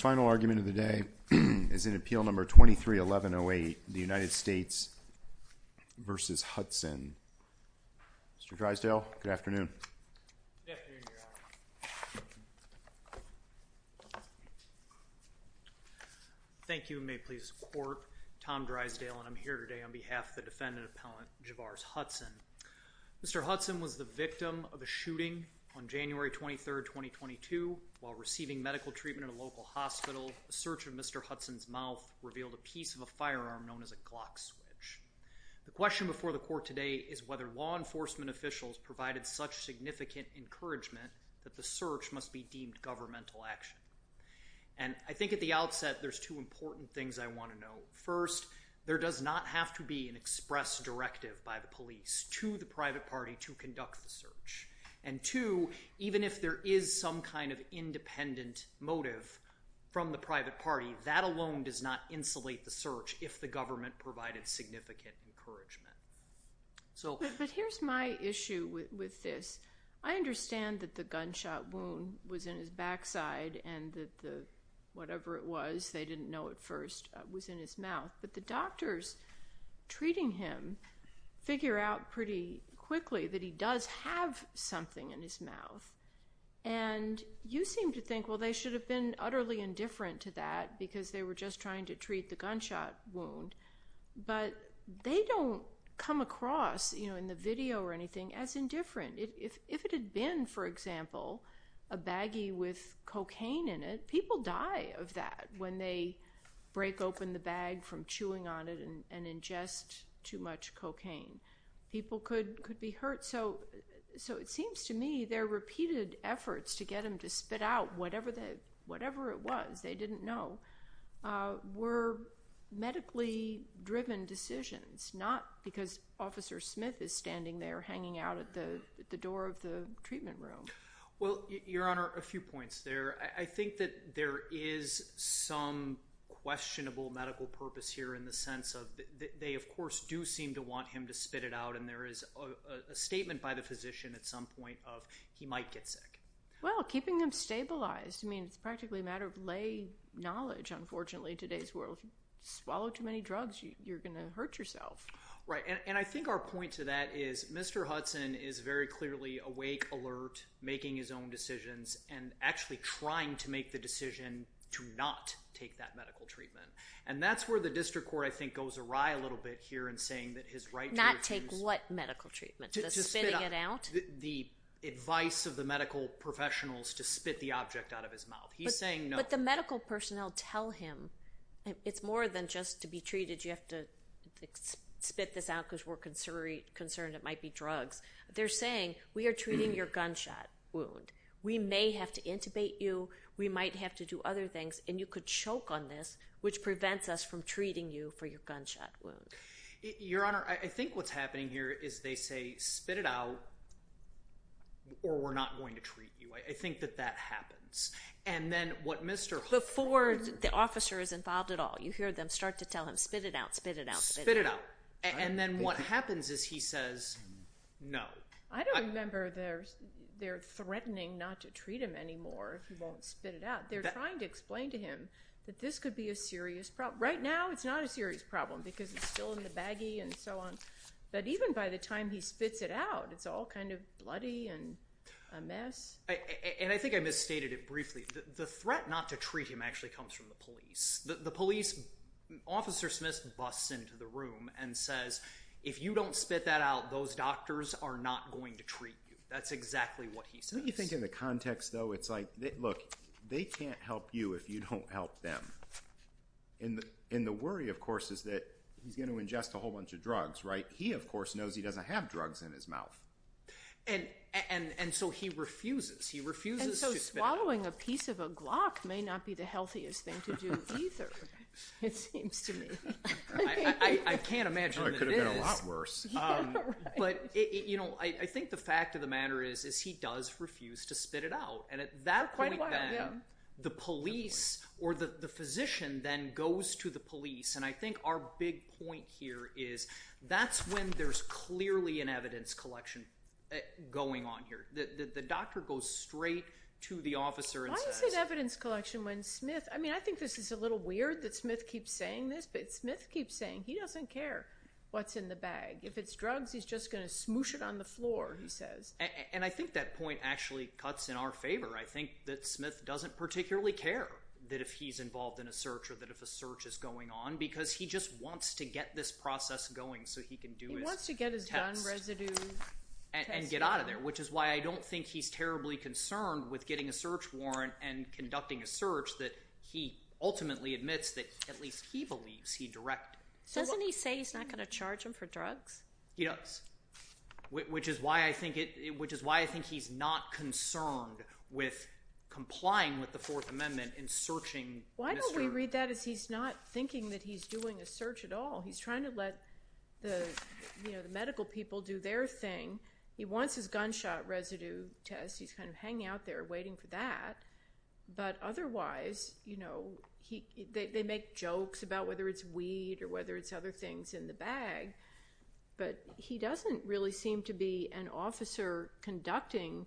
Final argument of the day is in Appeal No. 23-1108, the United States v. Hudson. Mr. Drysdale, good afternoon. Thank you, and may it please the Court, Tom Drysdale, and I'm here today on behalf of the defendant-appellant, Javares Hudson. Mr. Hudson was the victim of a shooting on January 23, 2022, while receiving medical treatment at a local hospital. A search of Mr. Hudson's mouth revealed a piece of a firearm known as a Glock switch. The question before the Court today is whether law enforcement officials provided such significant encouragement that the search must be deemed governmental action. And I think at the outset, there's two important things I want to know. First, there does not have to be an express directive by the police to the private party to conduct the search. And two, even if there is some kind of independent motive from the private party, that alone does not insulate the search if the government provided significant encouragement. But here's my issue with this. I understand that the gunshot wound was in his backside and that the whatever it was, they didn't know at first, was in his mouth. But the doctors treating him figure out pretty quickly that he does have something in his mouth. And you seem to think, well, they should have been utterly indifferent to that because they were just trying to treat the gunshot wound. But they don't come across, you know, in the video or anything, as indifferent. If it had been, for example, a baggie with cocaine in it, people die of that when they pick open the bag from chewing on it and ingest too much cocaine. People could be hurt. So it seems to me their repeated efforts to get him to spit out whatever it was they didn't know were medically driven decisions, not because Officer Smith is standing there hanging out at the door of the treatment room. Well, Your Honor, a few points there. I think that there is some questionable medical purpose here in the sense of they, of course, do seem to want him to spit it out. And there is a statement by the physician at some point of he might get sick. Well, keeping him stabilized, I mean, it's practically a matter of lay knowledge. Unfortunately, today's world, swallow too many drugs, you're going to hurt yourself. Right. And I think our point to that is Mr. Hudson is very clearly awake, alert, making his own decisions, and actually trying to make the decision to not take that medical treatment. And that's where the district court, I think, goes awry a little bit here in saying that his right to refuse... Not take what medical treatment? The spitting it out? The advice of the medical professionals to spit the object out of his mouth. He's saying no. But the medical personnel tell him it's more than just to be treated, you have to spit this out because we're concerned it might be drugs. They're saying, we are treating your gunshot wound. We may have to intubate you, we might have to do other things, and you could choke on this, which prevents us from treating you for your gunshot wound. Your Honor, I think what's happening here is they say, spit it out, or we're not going to treat you. I think that that happens. And then what Mr. Hudson... Before the officer is involved at all, you hear them start to tell him, spit it out, spit it out, spit it out. And then what happens is he says, no. I don't remember they're threatening not to treat him anymore if he won't spit it out. They're trying to explain to him that this could be a serious problem. Right now, it's not a serious problem because it's still in the baggie and so on. But even by the time he spits it out, it's all kind of bloody and a mess. And I think I misstated it briefly. The threat not to treat him actually comes from the police. The police, Officer Smith busts into the room and says, if you don't spit that out, those doctors are not going to treat you. That's exactly what he says. Don't you think in the context, though, it's like, look, they can't help you if you don't help them. And the worry, of course, is that he's going to ingest a whole bunch of drugs, right? He, of course, knows he doesn't have drugs in his mouth. And so he refuses. He refuses to spit it out. Swallowing a piece of a Glock may not be the healthiest thing to do, either, it seems to me. I can't imagine it could have been a lot worse. But, you know, I think the fact of the matter is, is he does refuse to spit it out. And at that point, the police or the physician then goes to the police. And I think our big point here is that's when there's clearly an evidence collection going on here. The doctor goes straight to the officer and says. Why is it evidence collection when Smith, I mean, I think this is a little weird that Smith keeps saying this, but Smith keeps saying he doesn't care what's in the bag. If it's drugs, he's just going to smoosh it on the floor, he says. And I think that point actually cuts in our favor. I think that Smith doesn't particularly care that if he's involved in a search or that if a search is going on, because he just wants to get this process going so he can do his test and get out of there, which is why I don't think he's terribly concerned with getting a search warrant and conducting a search that he ultimately admits that at least he believes he directed. Doesn't he say he's not going to charge him for drugs? He does. Which is why I think it which is why I think he's not concerned with complying with the Fourth Amendment in searching. Why don't we read that as he's not thinking that he's doing a search at all. He's trying to let the medical people do their thing. He wants his gunshot residue test. He's kind of hanging out there waiting for that. But otherwise, you know, they make jokes about whether it's weed or whether it's other things in the bag, but he doesn't really seem to be an officer conducting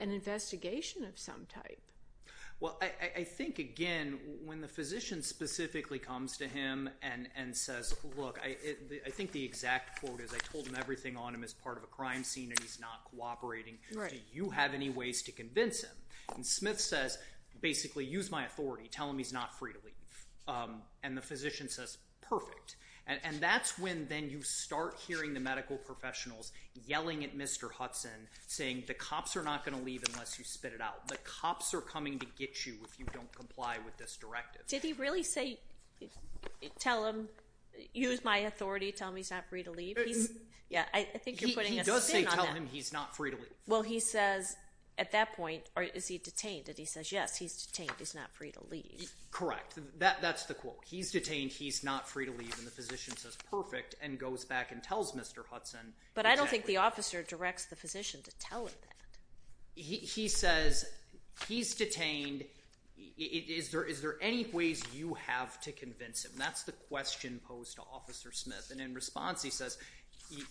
an investigation of some type. Well, I think, again, when the physician specifically comes to him and says, look, I think the exact quote is I told him everything on him as part of a crime scene and he's not cooperating. Do you have any ways to convince him? And Smith says, basically, use my authority. Tell him he's not free to leave. And the physician says, perfect. And that's when then you start hearing the medical professionals yelling at Mr. Hudson, saying the cops are not going to leave unless you spit it out. The cops are coming to get you if you don't comply with this directive. Did he really say, tell him, use my authority, tell him he's not free to leave? Yeah, I think you're putting a spin on that. He does say tell him he's not free to leave. Well, he says at that point, or is he detained, and he says, yes, he's detained, he's not free to leave. Correct. That's the quote. He's detained. He's not free to leave. And the physician says, perfect, and goes back and tells Mr. Hudson. But I don't think the officer directs the physician to tell him that. He says, he's detained. Is there any ways you have to convince him? That's the question posed to Officer Smith. And in response, he says,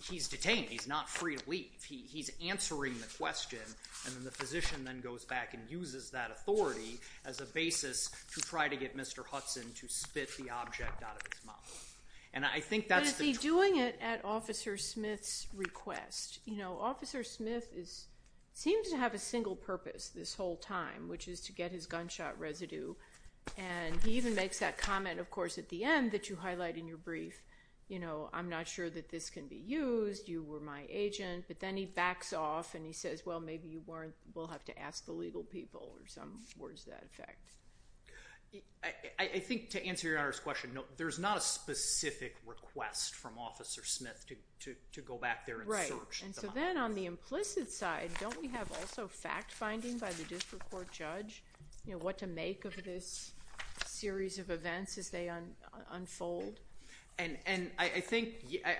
he's detained. He's not free to leave. He's answering the question. And then the physician then goes back and uses that authority as a basis to try to get Mr. Hudson to spit the object out of his mouth. And I think that's the- But is he doing it at Officer Smith's request? Officer Smith seems to have a single purpose this whole time, which is to get his gunshot residue. And he even makes that comment, of course, at the end that you highlight in your brief. I'm not sure that this can be used. You were my agent. But then he backs off, and he says, well, maybe we'll have to ask the legal people, or some words to that effect. I think, to answer Your Honor's question, there's not a specific request from Officer Smith. Right. And so then, on the implicit side, don't we have also fact-finding by the district court judge? You know, what to make of this series of events as they unfold? And I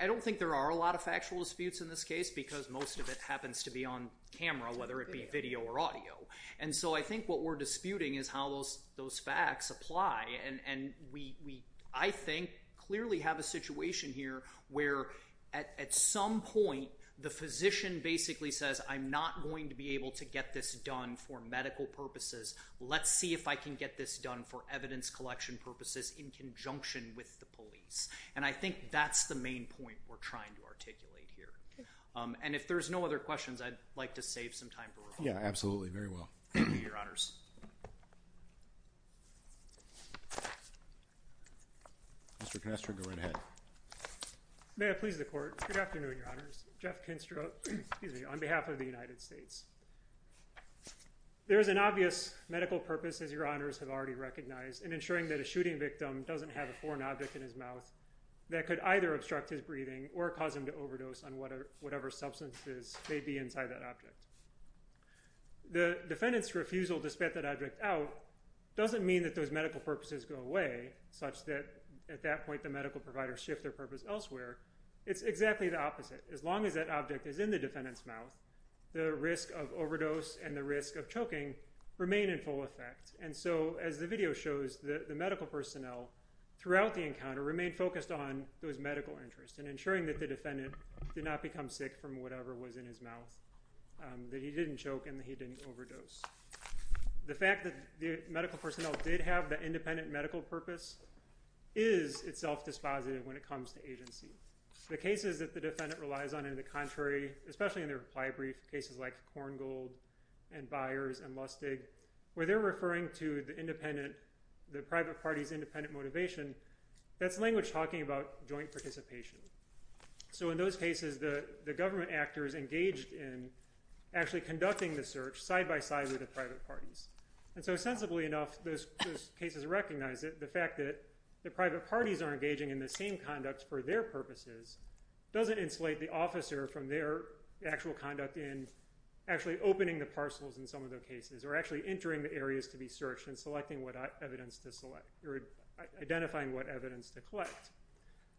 don't think there are a lot of factual disputes in this case because most of it happens to be on camera, whether it be video or audio. And so I think what we're disputing is how those facts apply. And we, I think, clearly have a situation here where, at some point, the physician basically says, I'm not going to be able to get this done for medical purposes. Let's see if I can get this done for evidence collection purposes in conjunction with the police. And I think that's the main point we're trying to articulate here. And if there's no other questions, I'd like to save some time for rebuttal. Yeah, absolutely. Very well. Mr. Kinestro, go right ahead. May I please the court? Good afternoon, Your Honors. Jeff Kinestro, excuse me, on behalf of the United States. There is an obvious medical purpose, as Your Honors have already recognized, in ensuring that a shooting victim doesn't have a foreign object in his mouth that could either obstruct his breathing or cause him to overdose on whatever substances may be inside that object. The defendant's refusal to spit that object out doesn't mean that those medical purposes go away, such that, at that point, the medical provider shifts their purpose elsewhere. It's exactly the opposite. As long as that object is in the defendant's mouth, the risk of overdose and the risk of choking remain in full effect. And so, as the video shows, the medical personnel, throughout the encounter, remained focused on those medical interests and ensuring that the defendant did not become sick from whatever was in his mouth, that he didn't choke and that he didn't overdose. The fact that the medical personnel did have that independent medical purpose is itself dispositive when it comes to agency. The cases that the defendant relies on in the contrary, especially in their reply brief, cases like Korngold and Byers and Lustig, where they're referring to the private party's independent motivation, that's language talking about joint participation. So in those cases, the government actors engaged in actually conducting the search, side-by-side with the private parties. And so, sensibly enough, those cases recognize that the fact that the private parties are engaging in the same conduct for their purposes doesn't insulate the officer from their actual conduct in actually opening the parcels in some of their cases, or actually entering the areas to be searched and selecting what evidence to select, or identifying what evidence to collect.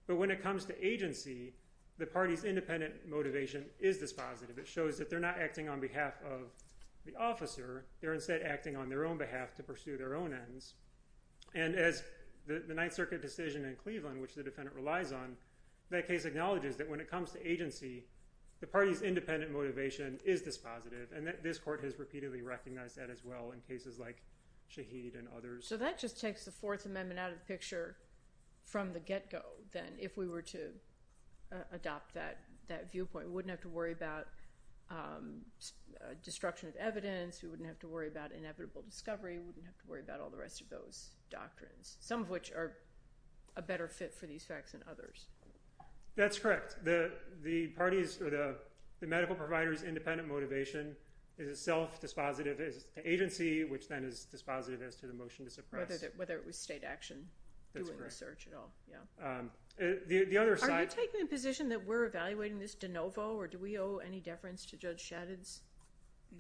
But when it comes to agency, the party's independent motivation is dispositive. It shows that they're not acting on behalf of the officer, they're instead acting on their own behalf to pursue their own ends. And as the Ninth Circuit decision in Cleveland, which the defendant relies on, that case acknowledges that when it comes to agency, the party's independent motivation is dispositive. And this court has repeatedly recognized that as well in cases like Shaheed and others. So that just takes the Fourth Amendment out of the picture from the get-go, then, if we were to adopt that viewpoint. We wouldn't have to worry about destruction of evidence, we wouldn't have to worry about inevitable discovery, we wouldn't have to worry about all the rest of those doctrines. Some of which are a better fit for these facts than others. That's correct. The parties, or the medical provider's independent motivation is as self-dispositive as the agency, which then is dispositive as to the motion to suppress. Whether it was state action doing the search at all, yeah. The other side... Are you taking the position that we're evaluating this de novo, or do we owe any deference to Judge Shadid's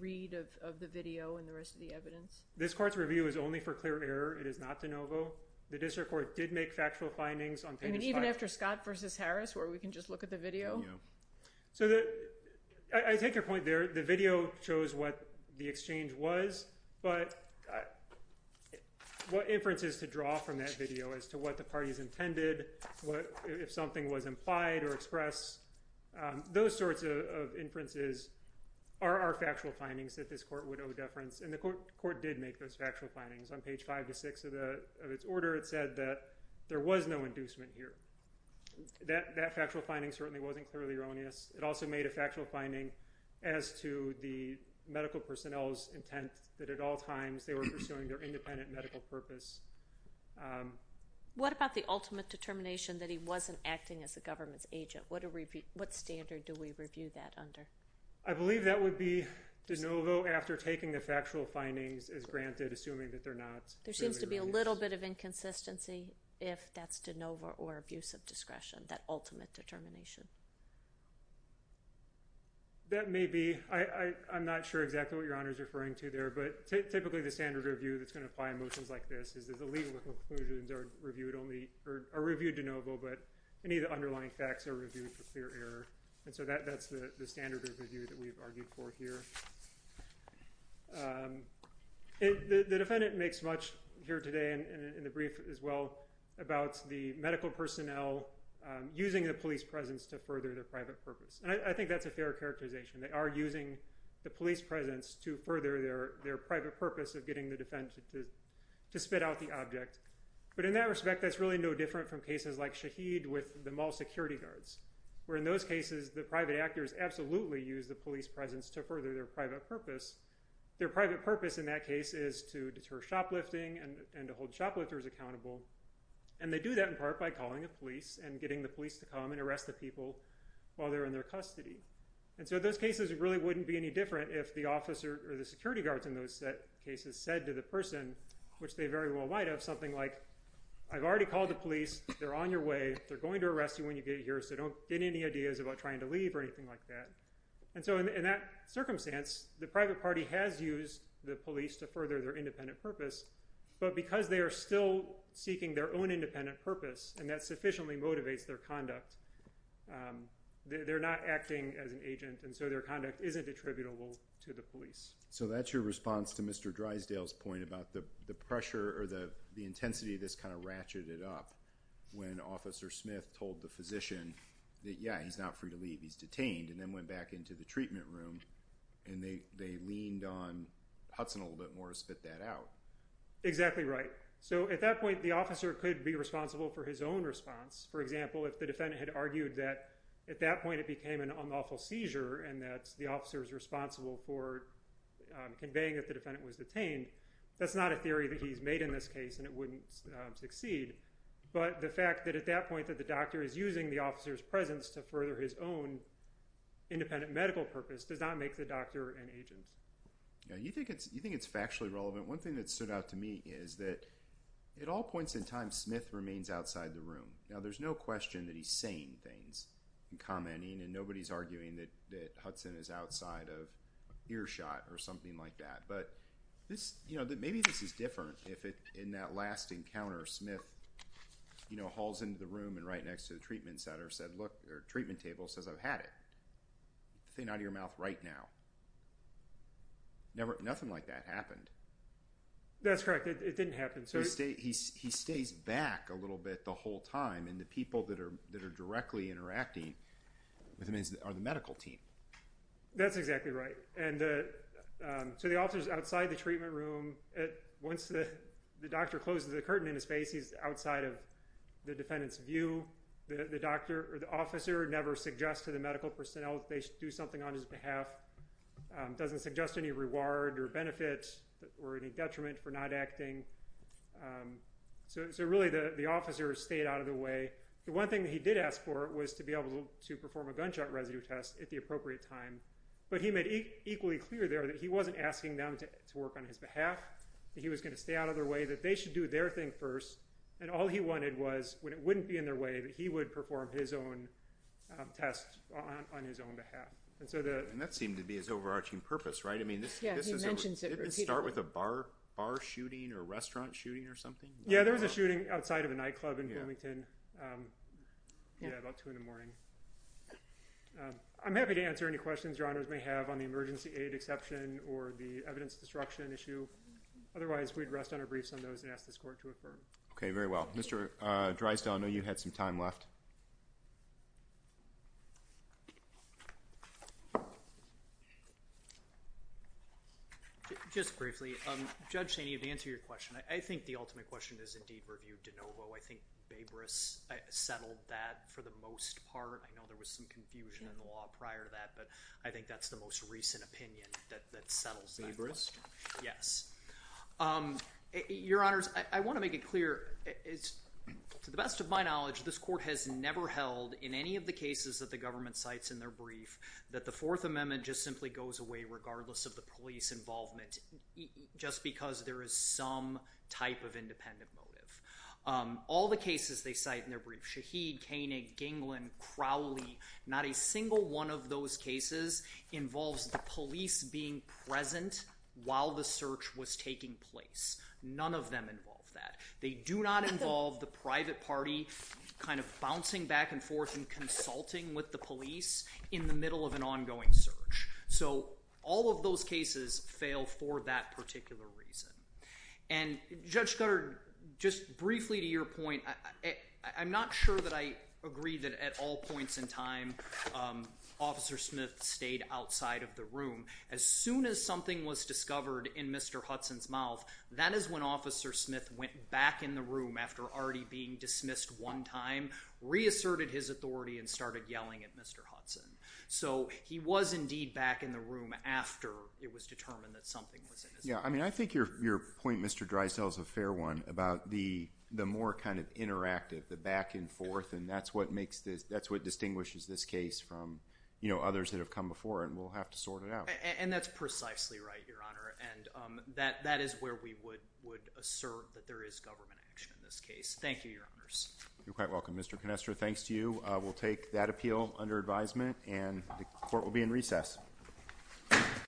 read of the video and the rest of the evidence? This court's review is only for clear error, it is not de novo. The district court did make factual findings on page five. And even after Scott versus Harris, where we can just look at the video? So I take your point there, the video shows what the exchange was, but what inferences to draw from that video as to what the parties intended, if something was implied or expressed, those sorts of inferences are our factual findings that this court would owe deference. And the court did make those factual findings. On page five to six of its order, it said that there was no inducement here. That factual finding certainly wasn't clearly erroneous. It also made a factual finding as to the medical personnel's intent that at all times they were pursuing their independent medical purpose. What about the ultimate determination that he wasn't acting as a government's agent? What standard do we review that under? I believe that would be de novo after taking the factual findings as granted, assuming that they're not clearly erroneous. There seems to be a little bit of inconsistency if that's de novo or abuse of discretion, that ultimate determination. That may be. I'm not sure exactly what Your Honor is referring to there, but typically the standard review that's going to apply in motions like this is the legal conclusions are reviewed de novo, but any of the underlying facts are reviewed for clear error. And so that's the standard review that we've argued for here. The defendant makes much here today and in the brief as well about the medical personnel using the police presence to further their private purpose. And I think that's a fair characterization. They are using the police presence to further their private purpose of getting the defendant to spit out the object. But in that respect, that's really no different from cases like Shaheed with the mall security guards, where in those cases, the private actors absolutely use the police presence to further their private purpose. Their private purpose in that case is to deter shoplifting and to hold shoplifters accountable. And they do that in part by calling the police and getting the police to come and arrest the people while they're in their custody. And so those cases really wouldn't be any different if the officer or the security guards in those cases said to the person, which they very well might have, something like, I've already called the police, they're on your way, they're going to arrest you when you get here, so don't get any ideas about trying to leave or anything like that. And so in that circumstance, the private party has used the police to further their independent purpose, but because they are still seeking their own independent purpose and that sufficiently motivates their conduct, they're not acting as an agent. And so their conduct isn't attributable to the police. So that's your response to Mr. Drysdale's point about the pressure or the intensity of this kind of ratcheted up when Officer Smith told the physician that, yeah, he's not free to leave, he's detained, and then went back into the treatment room and they leaned on Hudson a little bit more to spit that out. Exactly right. So at that point, the officer could be responsible for his own response. For example, if the defendant had argued that at that point it became an unlawful seizure and that the officer is responsible for conveying that the defendant was detained, that's not a theory that he's made in this case and it wouldn't succeed. But the fact that at that point that the doctor is using the officer's presence to further his own independent medical purpose does not make the doctor an agent. You think it's factually relevant. One thing that stood out to me is that at all points in time, Smith remains outside the room. Now, there's no question that he's saying things and commenting and nobody's arguing that Hudson is outside of earshot or something like that. But maybe this is different if in that last encounter, Smith hauls into the room and right next to the treatment center says, look, or treatment table says, I've had it. The thing out of your mouth right now. Nothing like that happened. That's correct. It didn't happen. So he stays back a little bit the whole time and the people that are directly interacting with him are the medical team. That's exactly right. And so the officer is outside the treatment room. Once the doctor closes the curtain in his face, he's outside of the defendant's view. The doctor or the officer never suggests to the medical personnel that they should do it. Doesn't suggest any reward or benefit or any detriment for not acting. So really the officer stayed out of the way. The one thing that he did ask for was to be able to perform a gunshot residue test at the appropriate time. But he made equally clear there that he wasn't asking them to work on his behalf. He was going to stay out of their way, that they should do their thing first. And all he wanted was, when it wouldn't be in their way, that he would perform his own test on his own behalf. And that seemed to be his overarching purpose, right? Yeah, he mentions it repeatedly. Didn't it start with a bar shooting or a restaurant shooting or something? Yeah, there was a shooting outside of a nightclub in Wilmington. Yeah, about two in the morning. I'm happy to answer any questions Your Honors may have on the emergency aid exception or the evidence destruction issue. Otherwise, we'd rest on our briefs on those and ask this court to affirm. Okay, very well. Mr. Dreisdell, I know you had some time left. Just briefly, Judge Sania, to answer your question, I think the ultimate question is in deep review de novo. I think Baybris settled that for the most part. I know there was some confusion in the law prior to that, but I think that's the most recent opinion that settles that. Baybris? Yes. Your Honors, I want to make it clear. To the best of my knowledge, this court has never held in any of the cases that the government cites in their brief that the Fourth Amendment just simply goes away regardless of the police involvement, just because there is some type of independent motive. All the cases they cite in their brief, Shaheed, Koenig, Ginglin, Crowley, not a single one of those cases involves the police being present while the search was taking place. None of them involve that. They do not involve the private party kind of bouncing back and forth and consulting with the police in the middle of an ongoing search. So, all of those cases fail for that particular reason. And, Judge Scudder, just briefly to your point, I'm not sure that I agree that at all points in time, Officer Smith stayed outside of the room. As soon as something was discovered in Mr. Hudson's mouth, that is when Officer Smith went back in the room after already being dismissed one time, reasserted his authority and started yelling at Mr. Hudson. So, he was indeed back in the room after it was determined that something was in his mouth. Yeah, I mean, I think your point, Mr. Dreisdell, is a fair one about the more kind of interactive, the back and forth, and that's what makes this, that's what distinguishes this case from, you know, others that have come before, and we'll have to sort it out. And that's precisely right, Your Honor, and that is where we would assert that there is government action in this case. Thank you, Your Honors. You're quite welcome, Mr. Canestra. Thanks to you. We'll take that appeal under advisement and the court will be in recess.